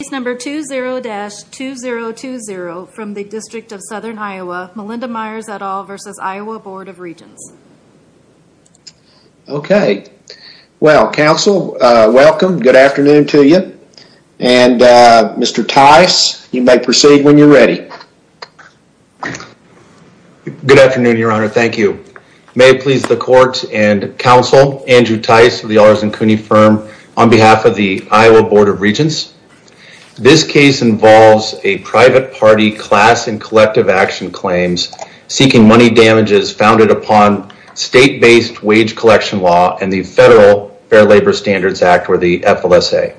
Case number 20-2020 from the District of Southern Iowa, Melinda Myers et al versus Iowa Board of Regents. Okay, well, counsel, welcome, good afternoon to you, and Mr. Tice, you may proceed when you're ready. Good afternoon, your honor, thank you. May it please the court and counsel, Andrew Tice of the R. Zancuni Firm on behalf of the This case involves a private party class and collective action claims seeking money damages founded upon state-based wage collection law and the Federal Fair Labor Standards Act or the FLSA.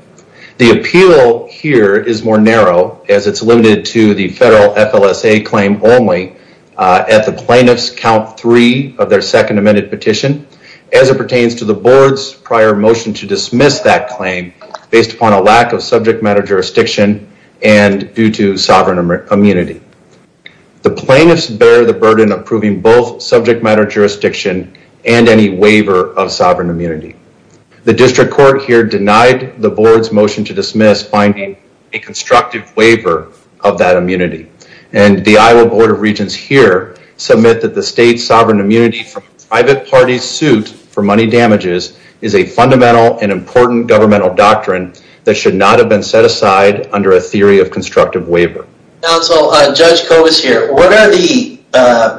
The appeal here is more narrow as it's limited to the federal FLSA claim only at the plaintiff's count three of their second amended petition. As it pertains to the board's prior motion to dismiss that claim based upon a lack of subject matter jurisdiction and due to sovereign immunity, the plaintiffs bear the burden of proving both subject matter jurisdiction and any waiver of sovereign immunity. The district court here denied the board's motion to dismiss finding a constructive waiver of that immunity, and the Iowa Board of Regents here submit that the state's sovereign immunity from a private party's suit for money damages is a fundamental and important governmental doctrine that should not have been set aside under a theory of constructive waiver. Counsel, Judge Covis here, what are the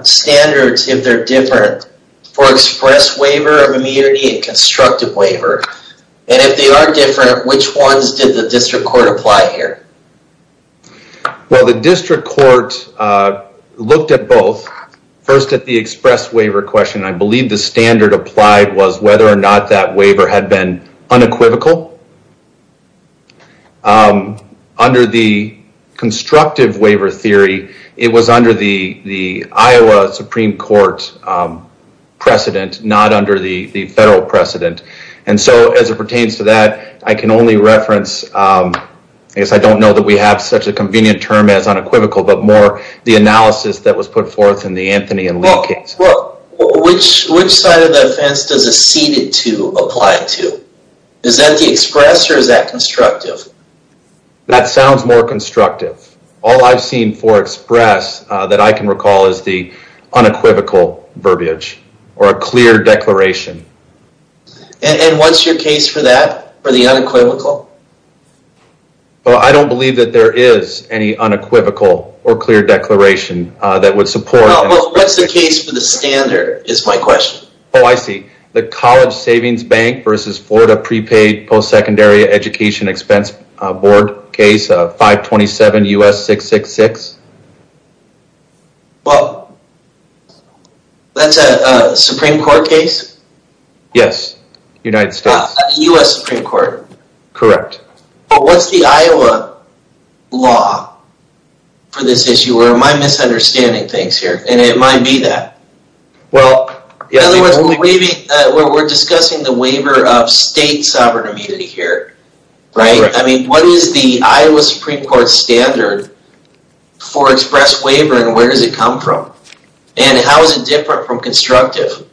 standards, if they're different, for express waiver of immunity and constructive waiver, and if they are different, which ones did the district court apply here? Well, the district court looked at both. First at the express waiver question, I believe the standard applied was whether or not that was true. Under the constructive waiver theory, it was under the Iowa Supreme Court precedent, not under the federal precedent. As it pertains to that, I can only reference, I guess I don't know that we have such a convenient term as unequivocal, but more the analysis that was put forth in the Anthony and Lee case. Well, which side of that fence does a ceded to apply to? Is that the express or is that constructive? That sounds more constructive. All I've seen for express that I can recall is the unequivocal verbiage or a clear declaration. And what's your case for that, for the unequivocal? I don't believe that there is any unequivocal or clear declaration that would support. What's the case for the standard, is my question. Oh, I see. The College Savings Bank versus Florida Prepaid Post-Secondary Education Expense Board case of 527 U.S. 666. Well, that's a Supreme Court case? Yes, United States. U.S. Supreme Court. Correct. What's the Iowa law for this issue? Or am I misunderstanding things here? And it might be that. In other words, we're discussing the waiver of state sovereign immunity here, right? I mean, what is the Iowa Supreme Court standard for express waiver and where does it come from? And how is it different from constructive?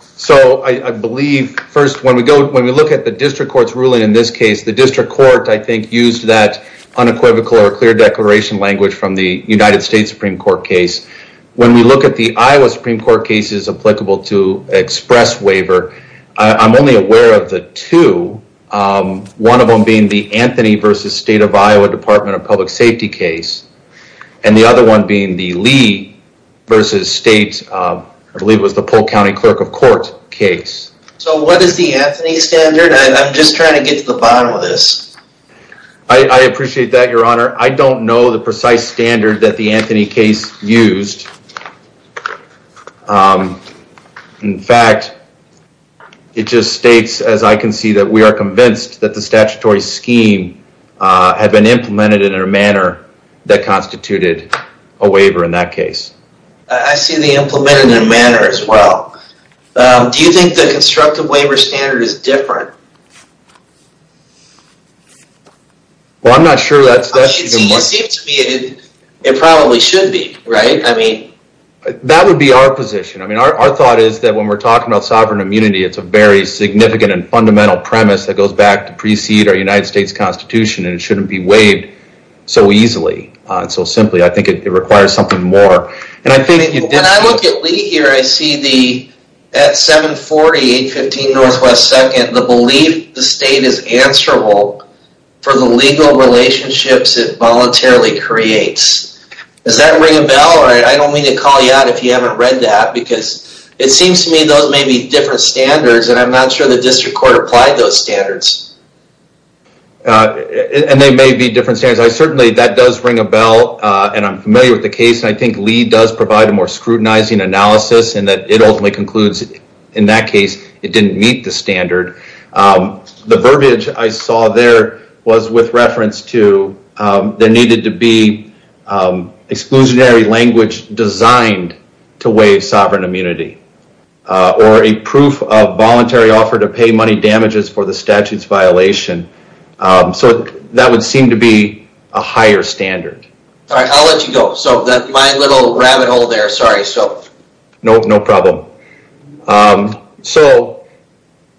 So, I believe, first, when we look at the district court's ruling in this case, the district court, I think, used that unequivocal or clear declaration language from the United States Supreme Court case. When we look at the Iowa Supreme Court cases applicable to express waiver, I'm only aware of the two, one of them being the Anthony v. State of Iowa Department of Public Safety case, and the other one being the Lee v. State, I believe it was the Polk County Clerk of Court case. So what is the Anthony standard? I'm just trying to get to the bottom of this. I appreciate that, Your Honor. I don't know the precise standard that the Anthony case used. In fact, it just states, as I can see, that we are convinced that the statutory scheme had been implemented in a manner that constituted a waiver in that case. I see the implemented in a manner as well. Do you think the constructive waiver standard is different? Well, I'm not sure that's... It probably should be, right? That would be our position. Our thought is that when we're talking about sovereign immunity, it's a very significant and fundamental premise that goes back to precede our United States Constitution, and it shouldn't be waived so easily and so simply. I think it requires something more. When I look at Lee here, I see the, at 740 815 NW 2nd, the belief the state is answerable for the legal relationships it voluntarily creates. Does that ring a bell? I don't mean to call you out if you haven't read that, because it seems to me those may be different standards, and I'm not sure the district court applied those standards. And they may be different standards. Certainly, that does ring a bell, and I'm familiar with the case, and I think Lee does provide a more scrutinizing analysis, and that it ultimately concludes in that case it didn't meet the standard. The verbiage I saw there was with reference to there needed to be exclusionary language designed to waive sovereign immunity, or a proof of voluntary offer to pay money damages for the statute's violation. So, that would seem to be a higher standard. Alright, I'll let you go. My little rabbit hole there, sorry. No problem. So,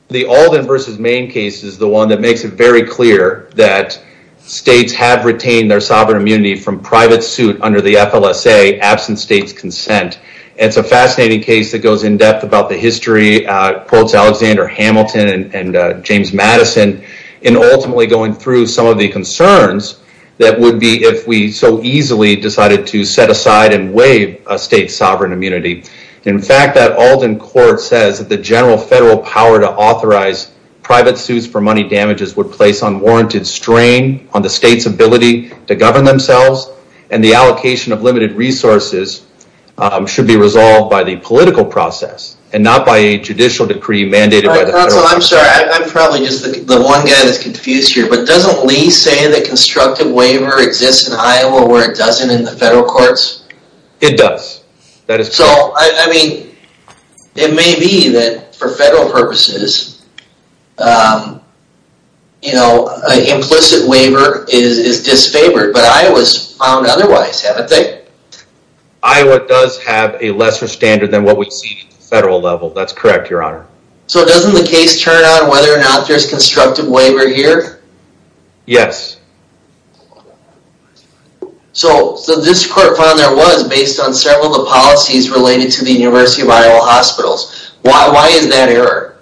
the Alden v. Main case is the one that makes it very clear that states have retained their sovereign immunity from private suit under the FLSA, absent state's consent. It's a fascinating case that goes in-depth about the history, quotes Alexander Hamilton and James Madison, in ultimately going through some of the concerns that would be if we so easily decided to set aside and waive a state's sovereign immunity. In fact, that Alden court says that the general federal power to authorize private suits for money damages would place unwarranted strain on the state's ability to govern themselves, and the allocation of limited resources should be resolved by the political process, and not by a judicial decree mandated by the federal courts. Counsel, I'm sorry, I'm probably just the one guy that's confused here, but doesn't Lee say that constructive waiver exists in Iowa where it doesn't in the federal courts? It does. So, I mean, it may be that for federal purposes, you know, an implicit waiver is disfavored, but Iowa's found otherwise, haven't they? Iowa does have a lesser standard than what we see at the federal level, that's correct, your honor. So doesn't the case turn on whether or not there's constructive waiver here? Yes. So this court found there was, based on several of the policies related to the University of Iowa hospitals. Why is that error?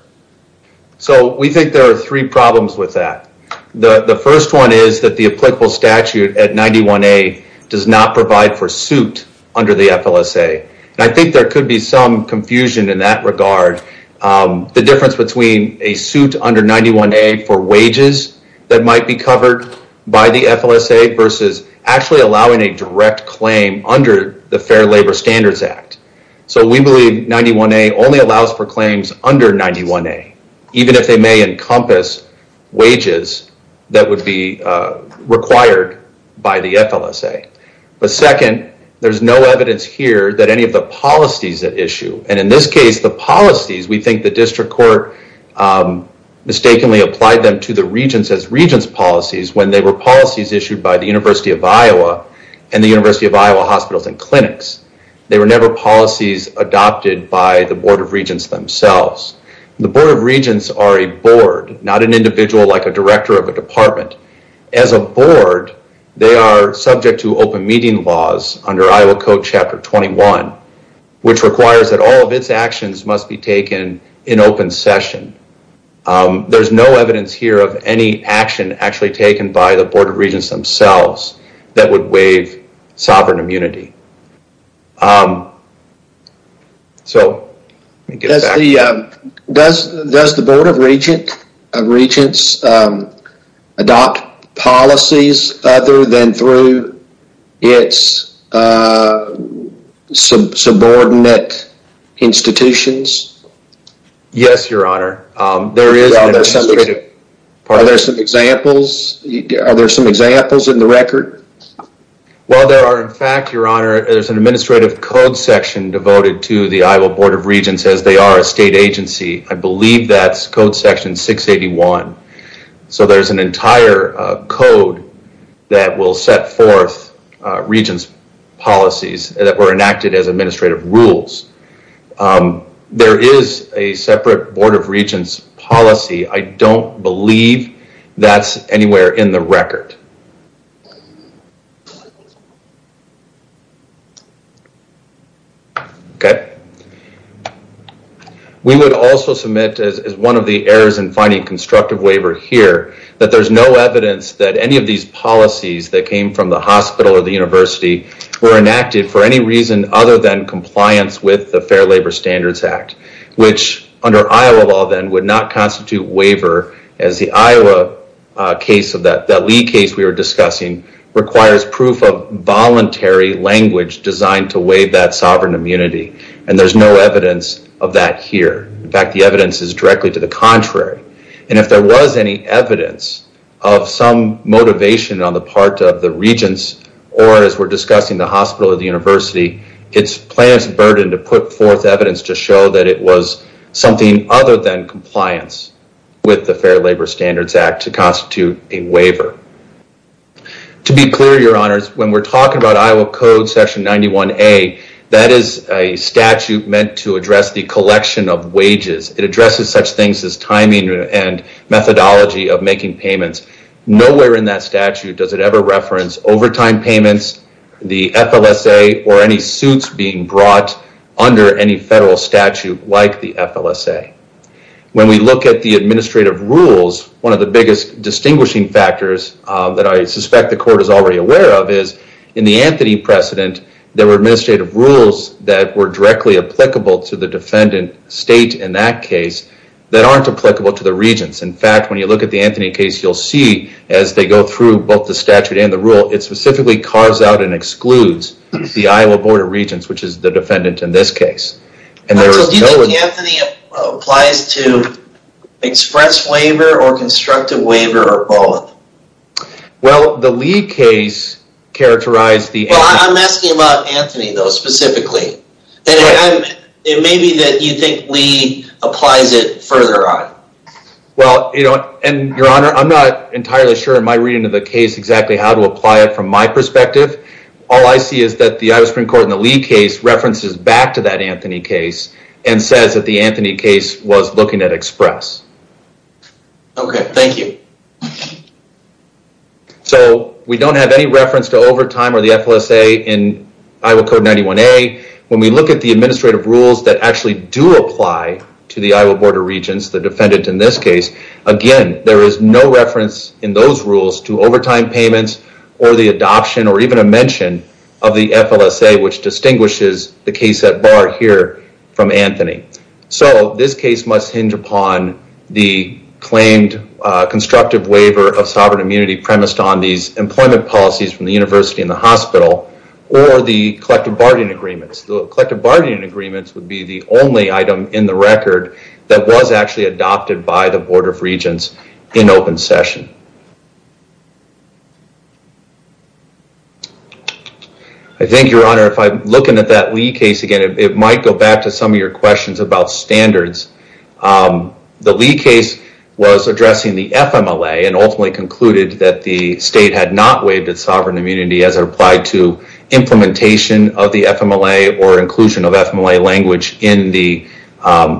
So we think there are three problems with that. The first one is that the applicable statute at 91A does not provide for suit under the FLSA, and I think there could be some confusion in that regard. The difference between a suit under 91A for wages that might be covered by the FLSA versus actually allowing a direct claim under the Fair Labor Standards Act. So we believe 91A only allows for claims under 91A, even if they may encompass wages that would be required by the FLSA. But second, there's no evidence here that any of the policies at issue, and in this case, the policies, we think the district court mistakenly applied them to the regents as regents policies when they were policies issued by the University of Iowa and the University of Iowa hospitals and clinics. They were never policies adopted by the Board of Regents themselves. The Board of Regents are a board, not an individual like a director of a department. As a board, they are subject to open meeting laws under Iowa Code Chapter 21, which requires that all of its actions must be taken in open session. There's no evidence here of any action actually taken by the Board of Regents themselves that would waive sovereign immunity. So let me get back. Does the Board of Regents adopt policies other than through its subordinate institutions? Yes, Your Honor. Are there some examples in the record? Well, there are in fact, Your Honor, there's an administrative code section devoted to the Iowa Board of Regents as they are a state agency. I believe that's Code Section 681. So there's an entire code that will set forth regents policies that were enacted as administrative rules. There is a separate Board of Regents policy. I don't believe that's anywhere in the record. We would also submit as one of the errors in finding constructive waiver here, that there's no evidence that any of these policies that came from the hospital or the university were enacted for any reason other than compliance with the Fair Labor Standards Act, which under Iowa law then would not constitute waiver as the Iowa case, that Lee case we were discussing, requires proof of voluntary language designed to waive that sovereign immunity. And there's no evidence of that here. In fact, the evidence is directly to the contrary. And if there was any evidence of some motivation on the part of the regents, or as we're discussing the hospital or the university, it's plaintiff's burden to put forth evidence to show that it was something other than compliance with the Fair Labor Standards Act to constitute a waiver. To be clear, your honors, when we're talking about Iowa Code Section 91A, that is a statute meant to address the collection of wages. It addresses such things as timing and methodology of making payments. Nowhere in that statute does it ever reference overtime payments, the FLSA, or any suits being brought under any federal statute like the FLSA. When we look at the administrative rules, one of the biggest distinguishing factors that I suspect the court is already aware of is, in the Anthony precedent, there were administrative rules that were directly applicable to the defendant state in that case that aren't applicable to the regents. In fact, when you look at the Anthony case, you'll see as they go through both the statute and the rule, it specifically carves out and excludes the Iowa Board of Regents, which is the defendant in this case. Do you think Anthony applies to express waiver or constructive waiver or both? Well, the Lee case characterized the Anthony... Well, I'm asking about Anthony though, specifically. It may be that you think Lee applies it further on. Well, your honor, I'm not entirely sure in my reading of the case exactly how to apply it from my perspective. All I see is that the Iowa Supreme Court in the Lee case references back to that Anthony case and says that the Anthony case was looking at express. Okay, thank you. So, we don't have any reference to overtime or the FLSA in Iowa Code 91A. When we look at the administrative rules that actually do apply to the Iowa Board of Regents, the defendant in this case, again, there is no reference in those rules to overtime payments or the adoption or even a mention of the FLSA, which distinguishes the case at bar here from Anthony. So, this case must hinge upon the claimed constructive waiver of sovereign immunity premised on these employment policies from the university and the hospital or the collective bargaining agreements. The collective bargaining agreements would be the only item in the record that was actually adopted by the Board of Regents in open session. I think, your honor, if I'm looking at that Lee case again, it might go back to some of your questions about standards. The Lee case was addressing the FMLA and ultimately concluded that the state had not waived its sovereign immunity as it applied to implementation of the FMLA or inclusion of FMLA language in the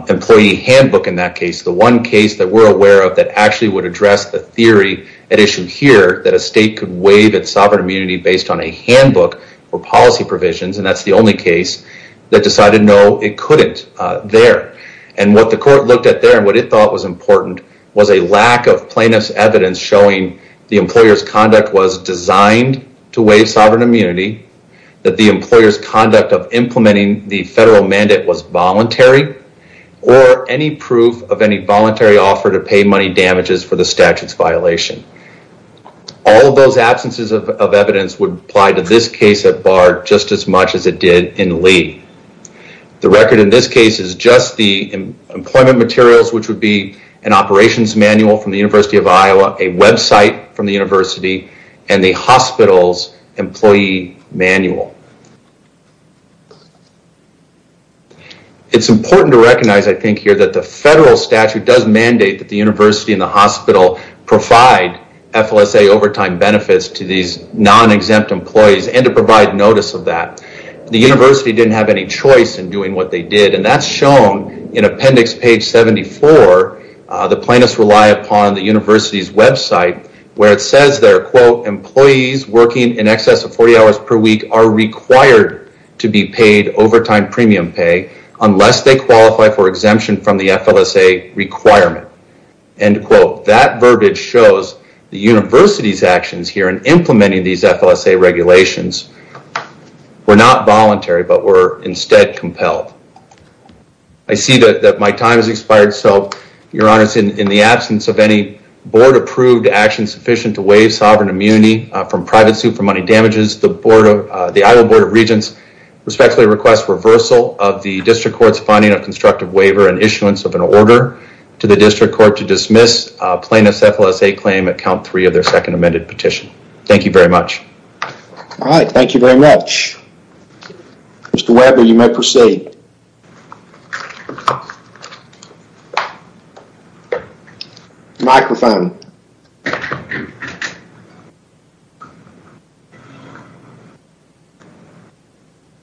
employee handbook in that case. The one case that we're aware of that actually would address the theory at issue here that a state could waive its sovereign immunity based on a handbook or policy provisions, and that's the only case that decided no, it couldn't there. And what the court looked at there and what it thought was important was a lack of plaintiff's evidence showing the employer's conduct was designed to waive sovereign immunity, that the employer's conduct of implementing the federal mandate was voluntary, or any proof of any voluntary offer to pay money damages for the statute's violation. All of those absences of evidence would apply to this case at Bard just as much as it did in Lee. The record in this case is just the employment materials, which would be an operations manual from the University of Iowa, a website from the university, and the hospital's employee manual. It's important to recognize, I think here, that the federal statute does mandate that the university and the hospital provide FLSA overtime benefits to these non-exempt employees and to provide notice of that. The university didn't have any choice in doing what they did, and that's shown in appendix page 74. The plaintiffs rely upon the university's website where it says there, quote, employees working in excess of 40 hours per week are required to be paid overtime premium pay unless they qualify for exemption from the FLSA requirement. End quote. That verbiage shows the university's actions here in implementing these FLSA regulations were not voluntary, but were instead compelled. I see that my time has expired, so your honors, in the absence of any board approved actions sufficient to waive sovereign immunity from private suit for money damages, the Iowa Board of Regents respectfully requests reversal of the district court's finding of constructive waiver and issuance of an order to the district court to dismiss plaintiff's FLSA claim at count three of their second amended petition. Thank you very much. All right, thank you very much. Mr. Weber, you may proceed. Microphone.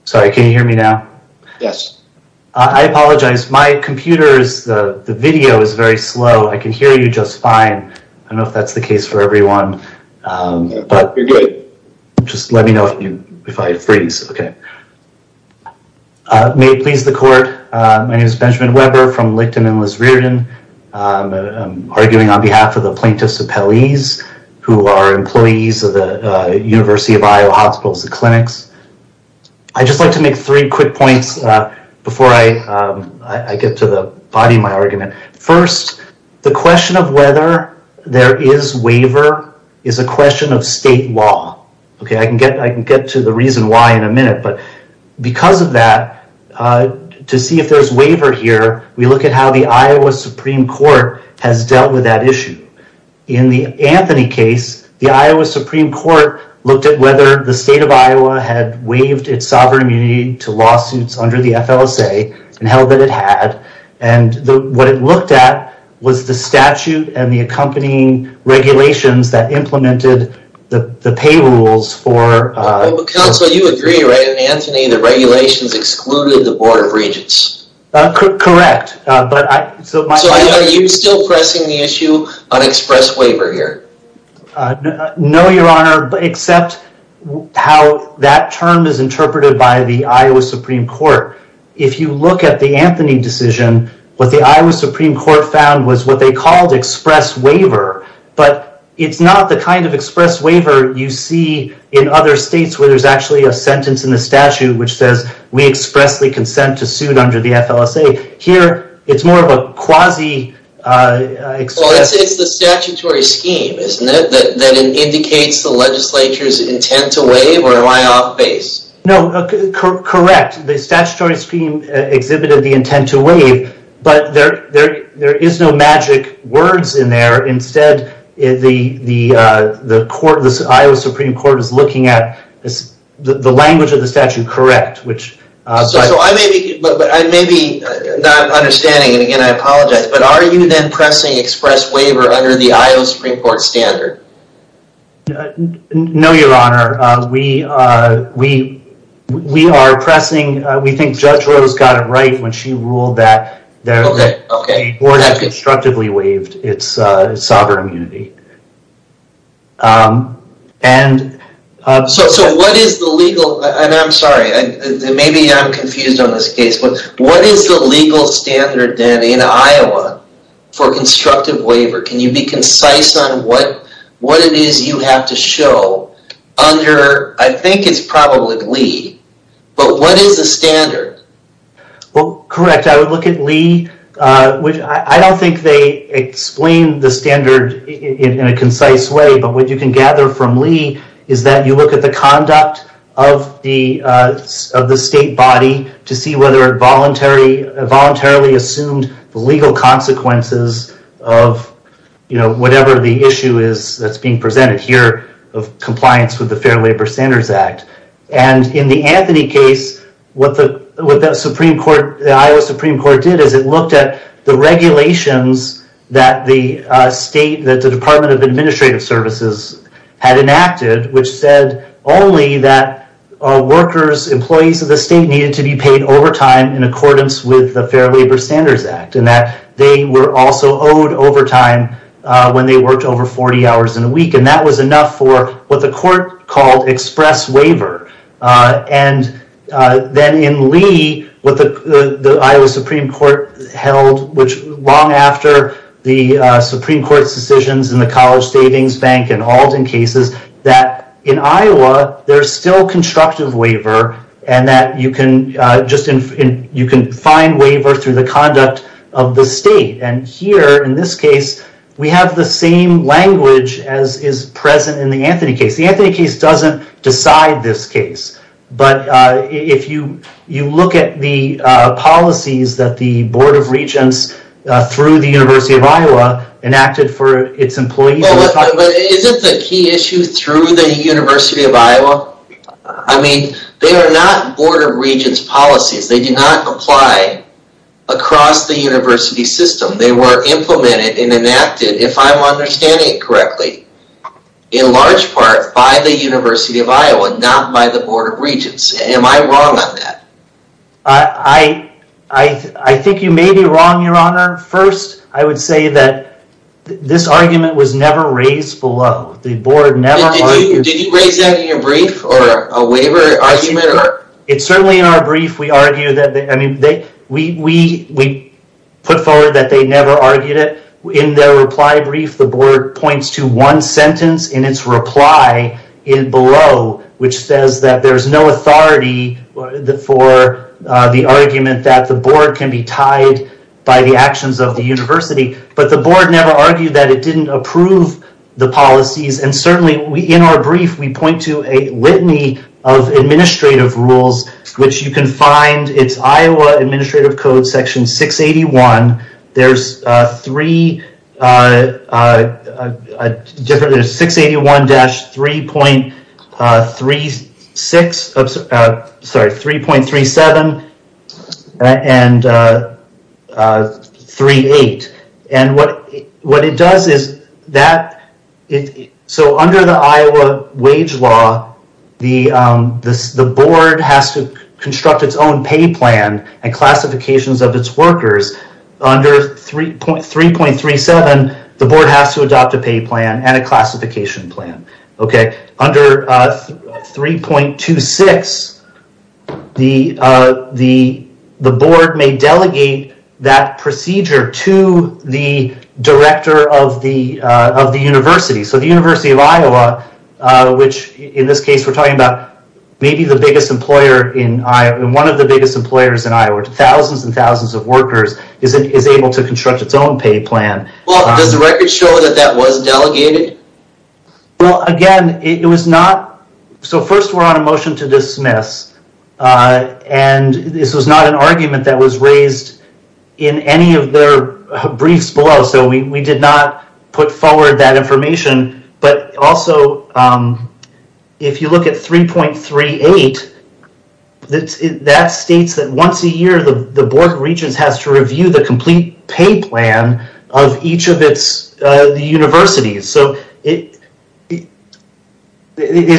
Sorry, can you hear me now? Yes. I apologize. My computer's video is very slow. I can hear you just fine. I don't know if that's the case for everyone. You're good. Just let me know if I freeze. Okay. May it please the court, my name is Benjamin Weber from Licton and Liz Riordan. I'm arguing on behalf of the plaintiffs' appellees, who are employees of the University of Iowa Hospitals and Clinics. I'd just like to make three quick points before I get to the body of my argument. First, the question of whether there is waiver is a question of state law. I can get to the reason why in a minute, but because of that, to see if there's waiver here, we look at how the Iowa Supreme Court has dealt with that issue. In the Anthony case, the Iowa Supreme Court looked at whether the state of Iowa had waived its sovereign immunity to lawsuits under the FLSA and held that it had. What it looked at was the statute and the accompanying regulations that implemented the pay rules for... Counsel, you agree, right? In Anthony, the regulations excluded the Board of Regents. Correct. Are you still pressing the issue on express waiver here? No, Your Honor, except how that term is interpreted by the Iowa Supreme Court. If you look at the Anthony decision, what the Iowa Supreme Court found was what they called express waiver, but it's not the kind of express waiver you see in other states where there's actually a sentence in the statute which says, we expressly consent to suit under the FLSA. Here, it's more of a quasi... It's the statutory scheme, isn't it, that indicates the legislature's intent to waive, or am I off base? No, correct. The statutory scheme exhibited the intent to waive, but there is no magic words in there. Instead, the Iowa Supreme Court is looking at the language of the statute correct, which... I may be not understanding, and again, I apologize, but are you then pressing express waiver under the Iowa Supreme Court standard? No, Your Honor. We are pressing, we think Judge Rose got it right when she ruled that the board constructively waived its sovereign immunity. What is the legal, and I'm sorry, maybe I'm confused on this case, but what is the legal standard then in Iowa for constructive waiver? Can you be concise on what it is you have to show under, I think it's probably Lee, but what is the standard? Correct. I would look at Lee. I don't think they explain the standard in a concise way, but what you can gather from Lee is that you look at the conduct of the state body to see whether it voluntarily assumed the legal consequences of whatever the issue is that's being presented here of compliance with the Fair Labor Standards Act. And in the Anthony case, what the Iowa Supreme Court did is it looked at the regulations that the state, that the Department of Administrative Services had enacted, which said only that workers, employees of the state needed to be paid overtime in accordance with the Fair Labor Standards Act, and that they were also owed overtime when they worked over 40 hours in a week, and that was enough for what the court called express waiver. And then in Lee, what the Iowa Supreme Court held, which long after the Supreme Court's decisions in the College Savings Bank and Alden cases, that in Iowa, there's still constructive waiver and that you can just, you can find waiver through the conduct of the state. And here, in this case, we have the same language as is present in the Anthony case. The Anthony case doesn't decide this case. But if you look at the policies that the Board of Regents through the University of Iowa enacted for its employees... Isn't the key issue through the University of Iowa? I mean, they are not Board of Regents policies. They do not apply across the university system. They were implemented and enacted, if I'm understanding it correctly, in large part by the University of Iowa, not by the Board of Regents. Am I wrong on that? I think you may be wrong, your honor. First, I would say that this argument was never raised below. The Board never argued... Did you raise that in your brief or a waiver argument? It's certainly in our brief we argue that, I mean, we put forward that they never argued it. In their reply brief, the board points to one sentence in its reply below, which says that there's no authority for the argument that the board can be tied by the actions of the university. But the board never argued that it didn't approve the policies. And certainly, in our brief, we point to a litany of administrative rules, which you can find. It's Iowa Administrative Code Section 681. There's three different...there's 681- 3.36...sorry, 3.37 and 38. And what it does is that...so under the Iowa wage law, the board has to construct its own pay plan and classifications of its workers. Under 3.37, the board has to adopt a pay plan and a classification plan. Under 3.26, the board may delegate that procedure to the director of the university. So the University of Iowa, which in this case we're talking about, may be the biggest employer in Iowa, one of the biggest employers in Iowa, thousands and thousands of workers, is able to construct its own pay plan. Well, does the record show that that was delegated? Well, again, it was not...so first we're on a motion to dismiss. And this was not an argument that was raised in any of their briefs below. So we did not put forward that information. But also, if you look at 3.38, that states that once a year the board of regents has to review the complete pay plan of each of the universities. So it's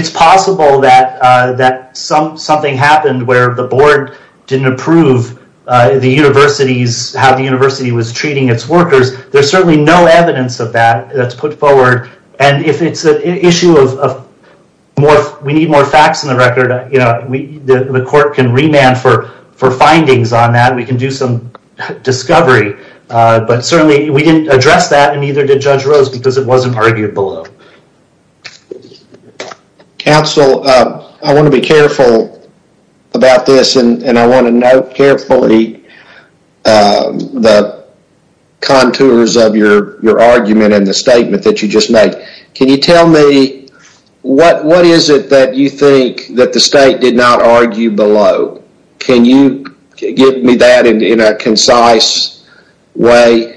possible that something happened where the board didn't approve how the university was treating its workers. There's certainly no evidence of that that's put forward. And if it's an issue of we need more facts in the record, the court can remand for findings on that. We can do some because it wasn't argued below. Council, I want to be careful about this and I want to note carefully the contours of your argument and the statement that you just made. Can you tell me what is it that you think that the state did not argue below? Can you give me that in a concise way?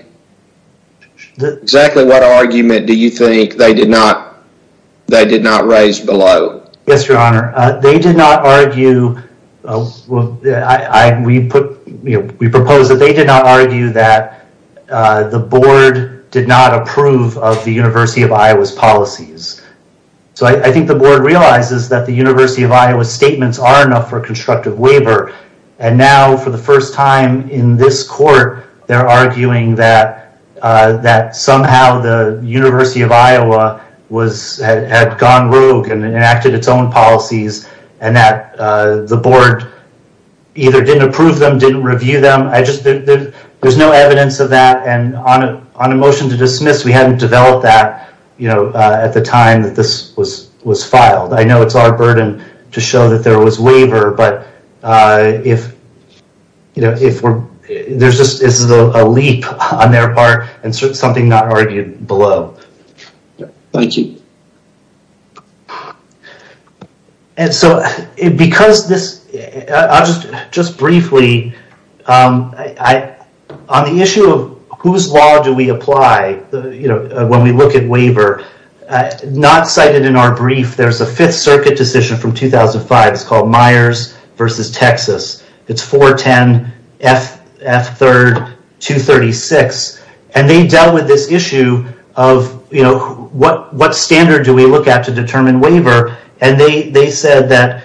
Exactly what argument do you think they did not raise below? Yes, your honor. They did not argue, we proposed that they did not argue that the board did not approve of the University of Iowa's policies. So I think the board realizes that the University of Iowa at the time in this court they're arguing that somehow the University of Iowa had gone rogue and enacted its own policies and that the board either didn't approve them, didn't review them. There's no evidence of that and on a motion to dismiss we haven't developed that at the time that this was filed. I know it's our burden to show that there was waiver but this is a leap on their part and something not argued below. Thank you. Because this, just briefly, on the issue of whose law do we apply when we look at waiver, not cited in our brief, there's a 5th circuit decision from 2005 it's called Myers versus Texas. It's 410 F 3rd 236 and they dealt with this issue of what standard do we look at to determine waiver and they said that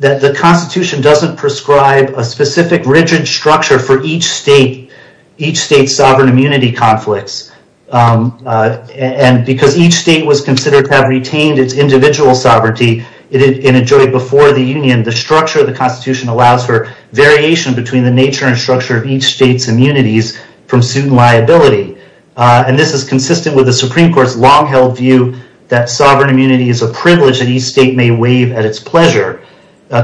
the constitution doesn't prescribe a specific rigid structure for each state's sovereign immunity conflicts and because each state was considered to have retained its individual sovereignty in a joint before the union, the structure of the constitution allows for variation between the nature and structure of each state's immunities from suit and liability. And this is consistent with the Supreme Court's long held view that sovereign immunity is a privilege that each state may waive at its pleasure.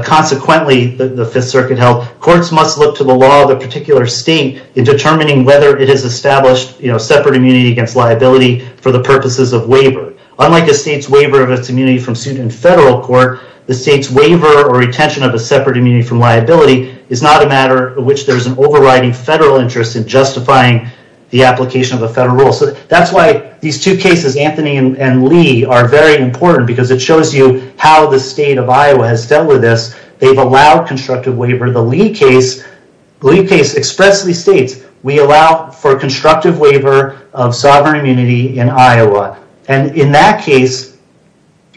Consequently, the 5th circuit held, courts must look to the law of the particular state in determining whether it has established separate immunity against liability for the purposes of waiver. Unlike a state's waiver of its immunity from suit in federal court, the state's waiver or retention of a separate immunity from liability is not a matter of which there's an overriding federal interest in justifying the application of a federal rule. That's why these two cases, Anthony and Lee, are very important because it shows you how the state of Iowa has dealt with this. They've allowed constructive waiver. The Lee case expressly states, we allow for constructive waiver of sovereign immunity in Iowa. And in that case,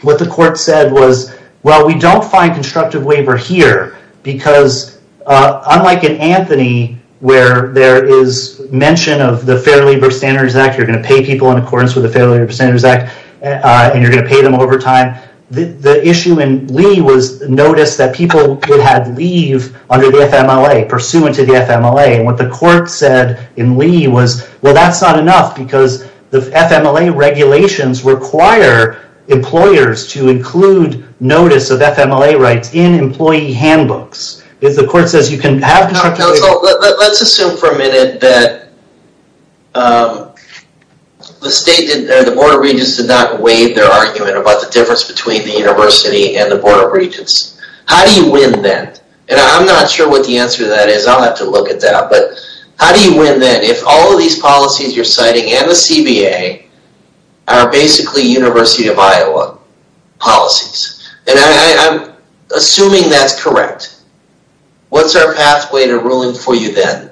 what the court said was well we don't find constructive waiver here because unlike in Anthony where there is mention of the Fair Labor Standards Act, you're going to pay people in accordance with the Fair Labor Standards Act and you're going to pay them overtime. The issue in Lee was notice that people could have leave under the FMLA, pursuant to the FMLA. And what the court said in Lee was, well that's not enough because the FMLA regulations require employers to include notice of FMLA rights in employee handbooks. Let's assume for a minute that the Board of Regents did not waive their argument about the difference between the University and the Board of Regents. How do you win then? And I'm not sure what the answer to that is. I'll have to look at that. But how do you win then if all of these policies you're citing and the CBA are basically University of Iowa policies? And I'm assuming that's correct. What's our pathway to ruling for you then?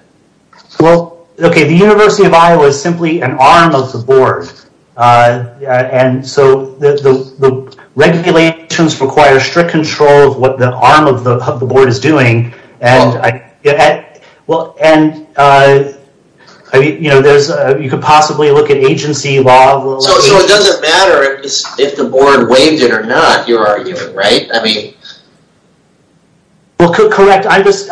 Well, okay, the University of Iowa is simply an arm of the Board. And so the regulations require strict control of what the arm of the Board is doing. You could possibly look at agency law. So it doesn't matter if the Board waived it or not, you're arguing, right? Well correct, I'm just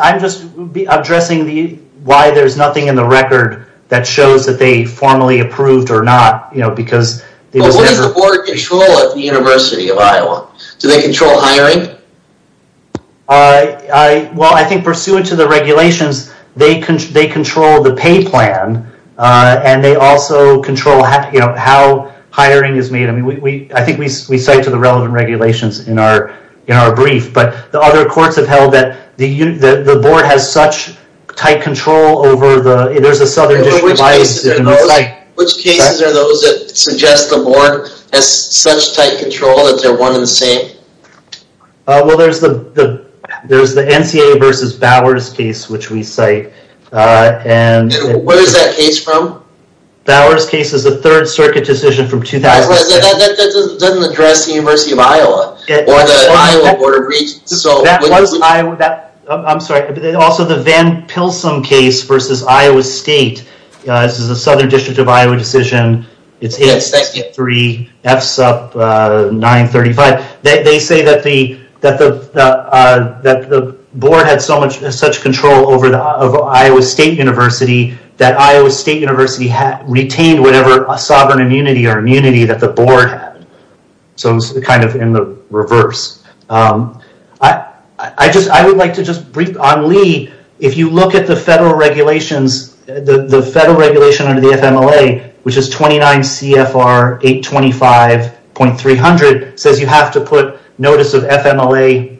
addressing why there's nothing in the record that shows that they formally approved or not. What does the Board control at the University of Iowa? Do they control hiring? Well, I think pursuant to the regulations, they control the pay plan and they also control how hiring is made. I think we cite to the relevant regulations in our brief. But the other courts have held that the Board has such tight control over the... Which cases are those that suggest the Board has such tight control that they're one and the same? Well there's the NCA versus Bowers case which we cite. Where is that case from? Bowers case is a third circuit decision from 2006. That doesn't address the University of Iowa or the Iowa Board of Regents. That was Iowa...I'm sorry, also the Van Pilsen case versus Iowa State. This is a Southern District of Iowa decision. It's 863 FSUP 935. They say that the Board had such control over Iowa State University that Iowa State University retained whatever sovereign immunity or immunity that the Board had. So it's kind of in the reverse. I would like to just brief on Lee. If you look at the federal regulations, the federal regulation under the FMLA, which is 29 CFR 825.300, says you have to put notice of FMLA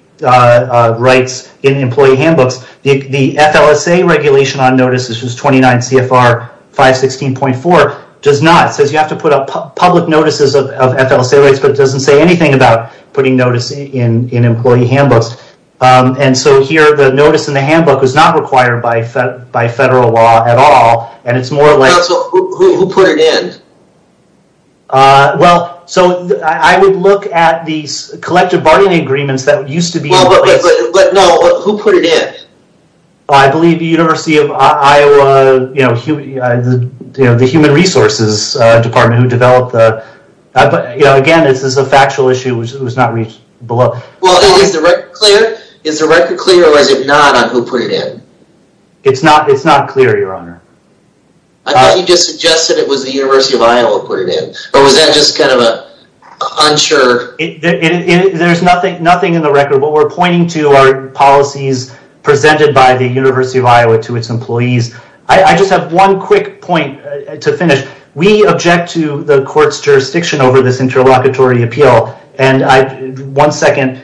rights in employee handbooks. The FLSA regulation on notices, which is 29 CFR 516.4, does not. It says you have to put up public notices of FLSA rights, but it doesn't say anything about putting notice in employee handbooks. Here the notice in the handbook is not required by federal law at all. Who put it in? I would look at these collective bargaining agreements that used to be in place. Who put it in? I believe the University of Iowa, the Human Resources Department who developed the... Again, this is a factual issue. It was not reached below. Is the record clear or was it not on who put it in? It's not clear, your honor. I thought you just suggested it was the University of Iowa put it in. Or was that just kind of to our policies presented by the University of Iowa to its employees? I just have one quick point to finish. We object to the court's jurisdiction over this interlocutory appeal. One second.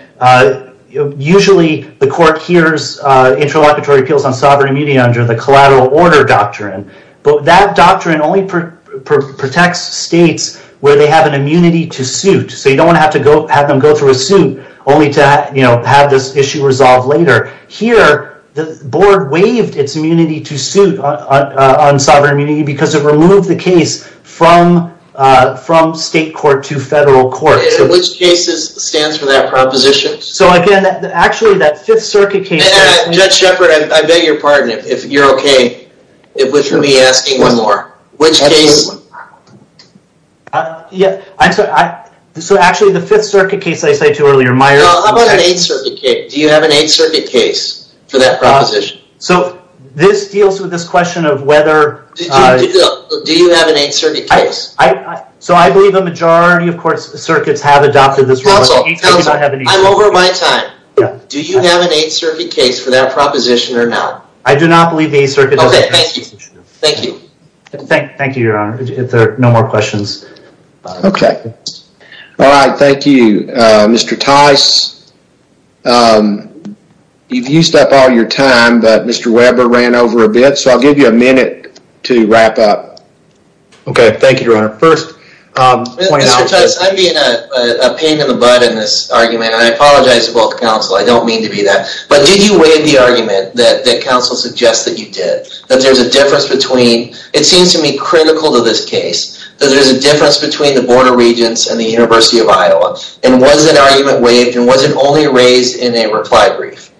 Usually, the court hears interlocutory appeals on sovereign immunity under the collateral order doctrine. That doctrine only protects states where they have an immunity to suit. You don't want to have them go through a suit only to have this issue resolved later. Here, the board waived its immunity to suit on sovereign immunity because it removed the case from state court to federal court. Which case stands for that proposition? Judge Shepard, I beg your pardon if you're okay. We should be asking one more. Actually, the 5th Circuit case I cited earlier... Do you have an 8th Circuit case for that proposition? Do you have an 8th Circuit case? I believe a majority of circuits have adopted this rule. I'm over my time. Do you have an 8th Circuit case for that proposition or not? I do not believe the 8th Circuit... Okay, thank you. Thank you, Your Honor. If there are no more questions... Okay. Alright, thank you, Mr. Tice. You've used up all your time, but Mr. Weber ran over a bit, so I'll give you a minute to wrap up. Okay, thank you, Your Honor. Mr. Tice, I'm being a pain in the butt in this argument, and I apologize to both counsel, I don't mean to be that. But did you waive the argument that counsel suggests that you did? It seems to me critical to this case that there's a difference between the Board of Regents and the University of Iowa. And was that argument waived, and was it only raised in a reply brief?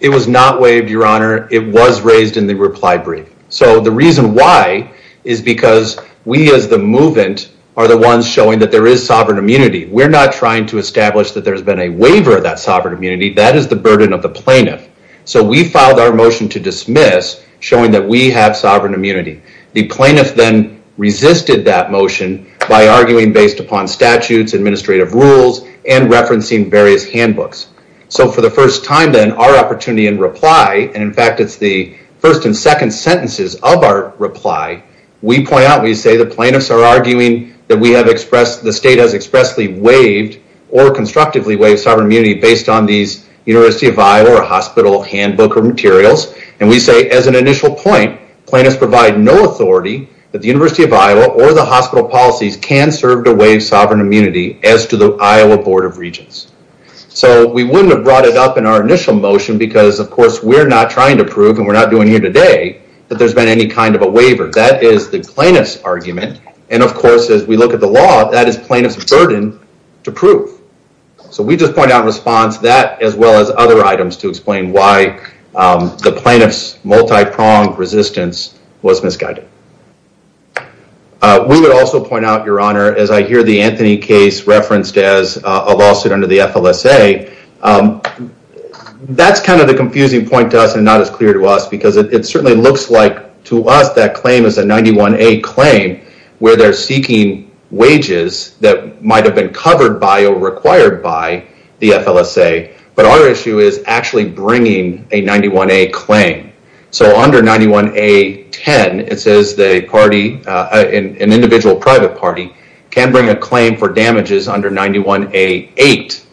It was not waived, Your Honor. It was raised in the reply brief. So the reason why is because we as the movant are the ones showing that there is sovereign immunity. We're not trying to establish that there's been a waiver of that sovereign immunity. That is the burden of the plaintiff. So we filed our motion to dismiss, showing that we have sovereign immunity. The plaintiff then resisted that motion by arguing based upon statutes, administrative rules, and referencing various handbooks. So for the first time then, our opportunity in reply, and in fact it's the first and second sentences of our reply, we point out, we say the plaintiffs are arguing that the state has expressly waived or constructively waived sovereign immunity based on these University of Iowa or hospital handbook materials. And we say as an initial point, plaintiffs provide no authority that the University of Iowa or the hospital policies can serve to waive sovereign immunity as to the Iowa Board of Regents. So we wouldn't have brought it up in our initial motion because of course we're not trying to prove, and we're not doing it here today, that there's been any kind of a waiver. That is the plaintiff's argument, and of course as we look at the law, that is plaintiff's burden to prove. So we just point out in response that as well as other items to explain why the plaintiff's multi-pronged resistance was misguided. We would also point out, Your Honor, as I hear the Anthony case referenced as a lawsuit under the FLSA, that's kind of the confusing point to us and not as clear to us because it certainly looks like to us that claim is a 91A claim where they're seeking wages that might have been covered by or required by the FLSA, but our issue is actually bringing a 91A claim. So under 91A-10, it says an individual private party can bring a claim for damages under 91A-8.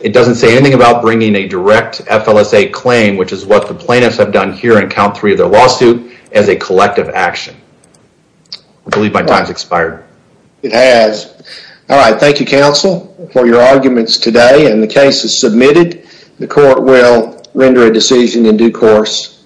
It doesn't say anything about bringing a direct FLSA claim, which is what the plaintiffs have done here in count three of their lawsuit, as a collective action. I believe my time's expired. It has. Alright, thank you counsel for your arguments today, and the case is submitted. The court will render a decision in due course.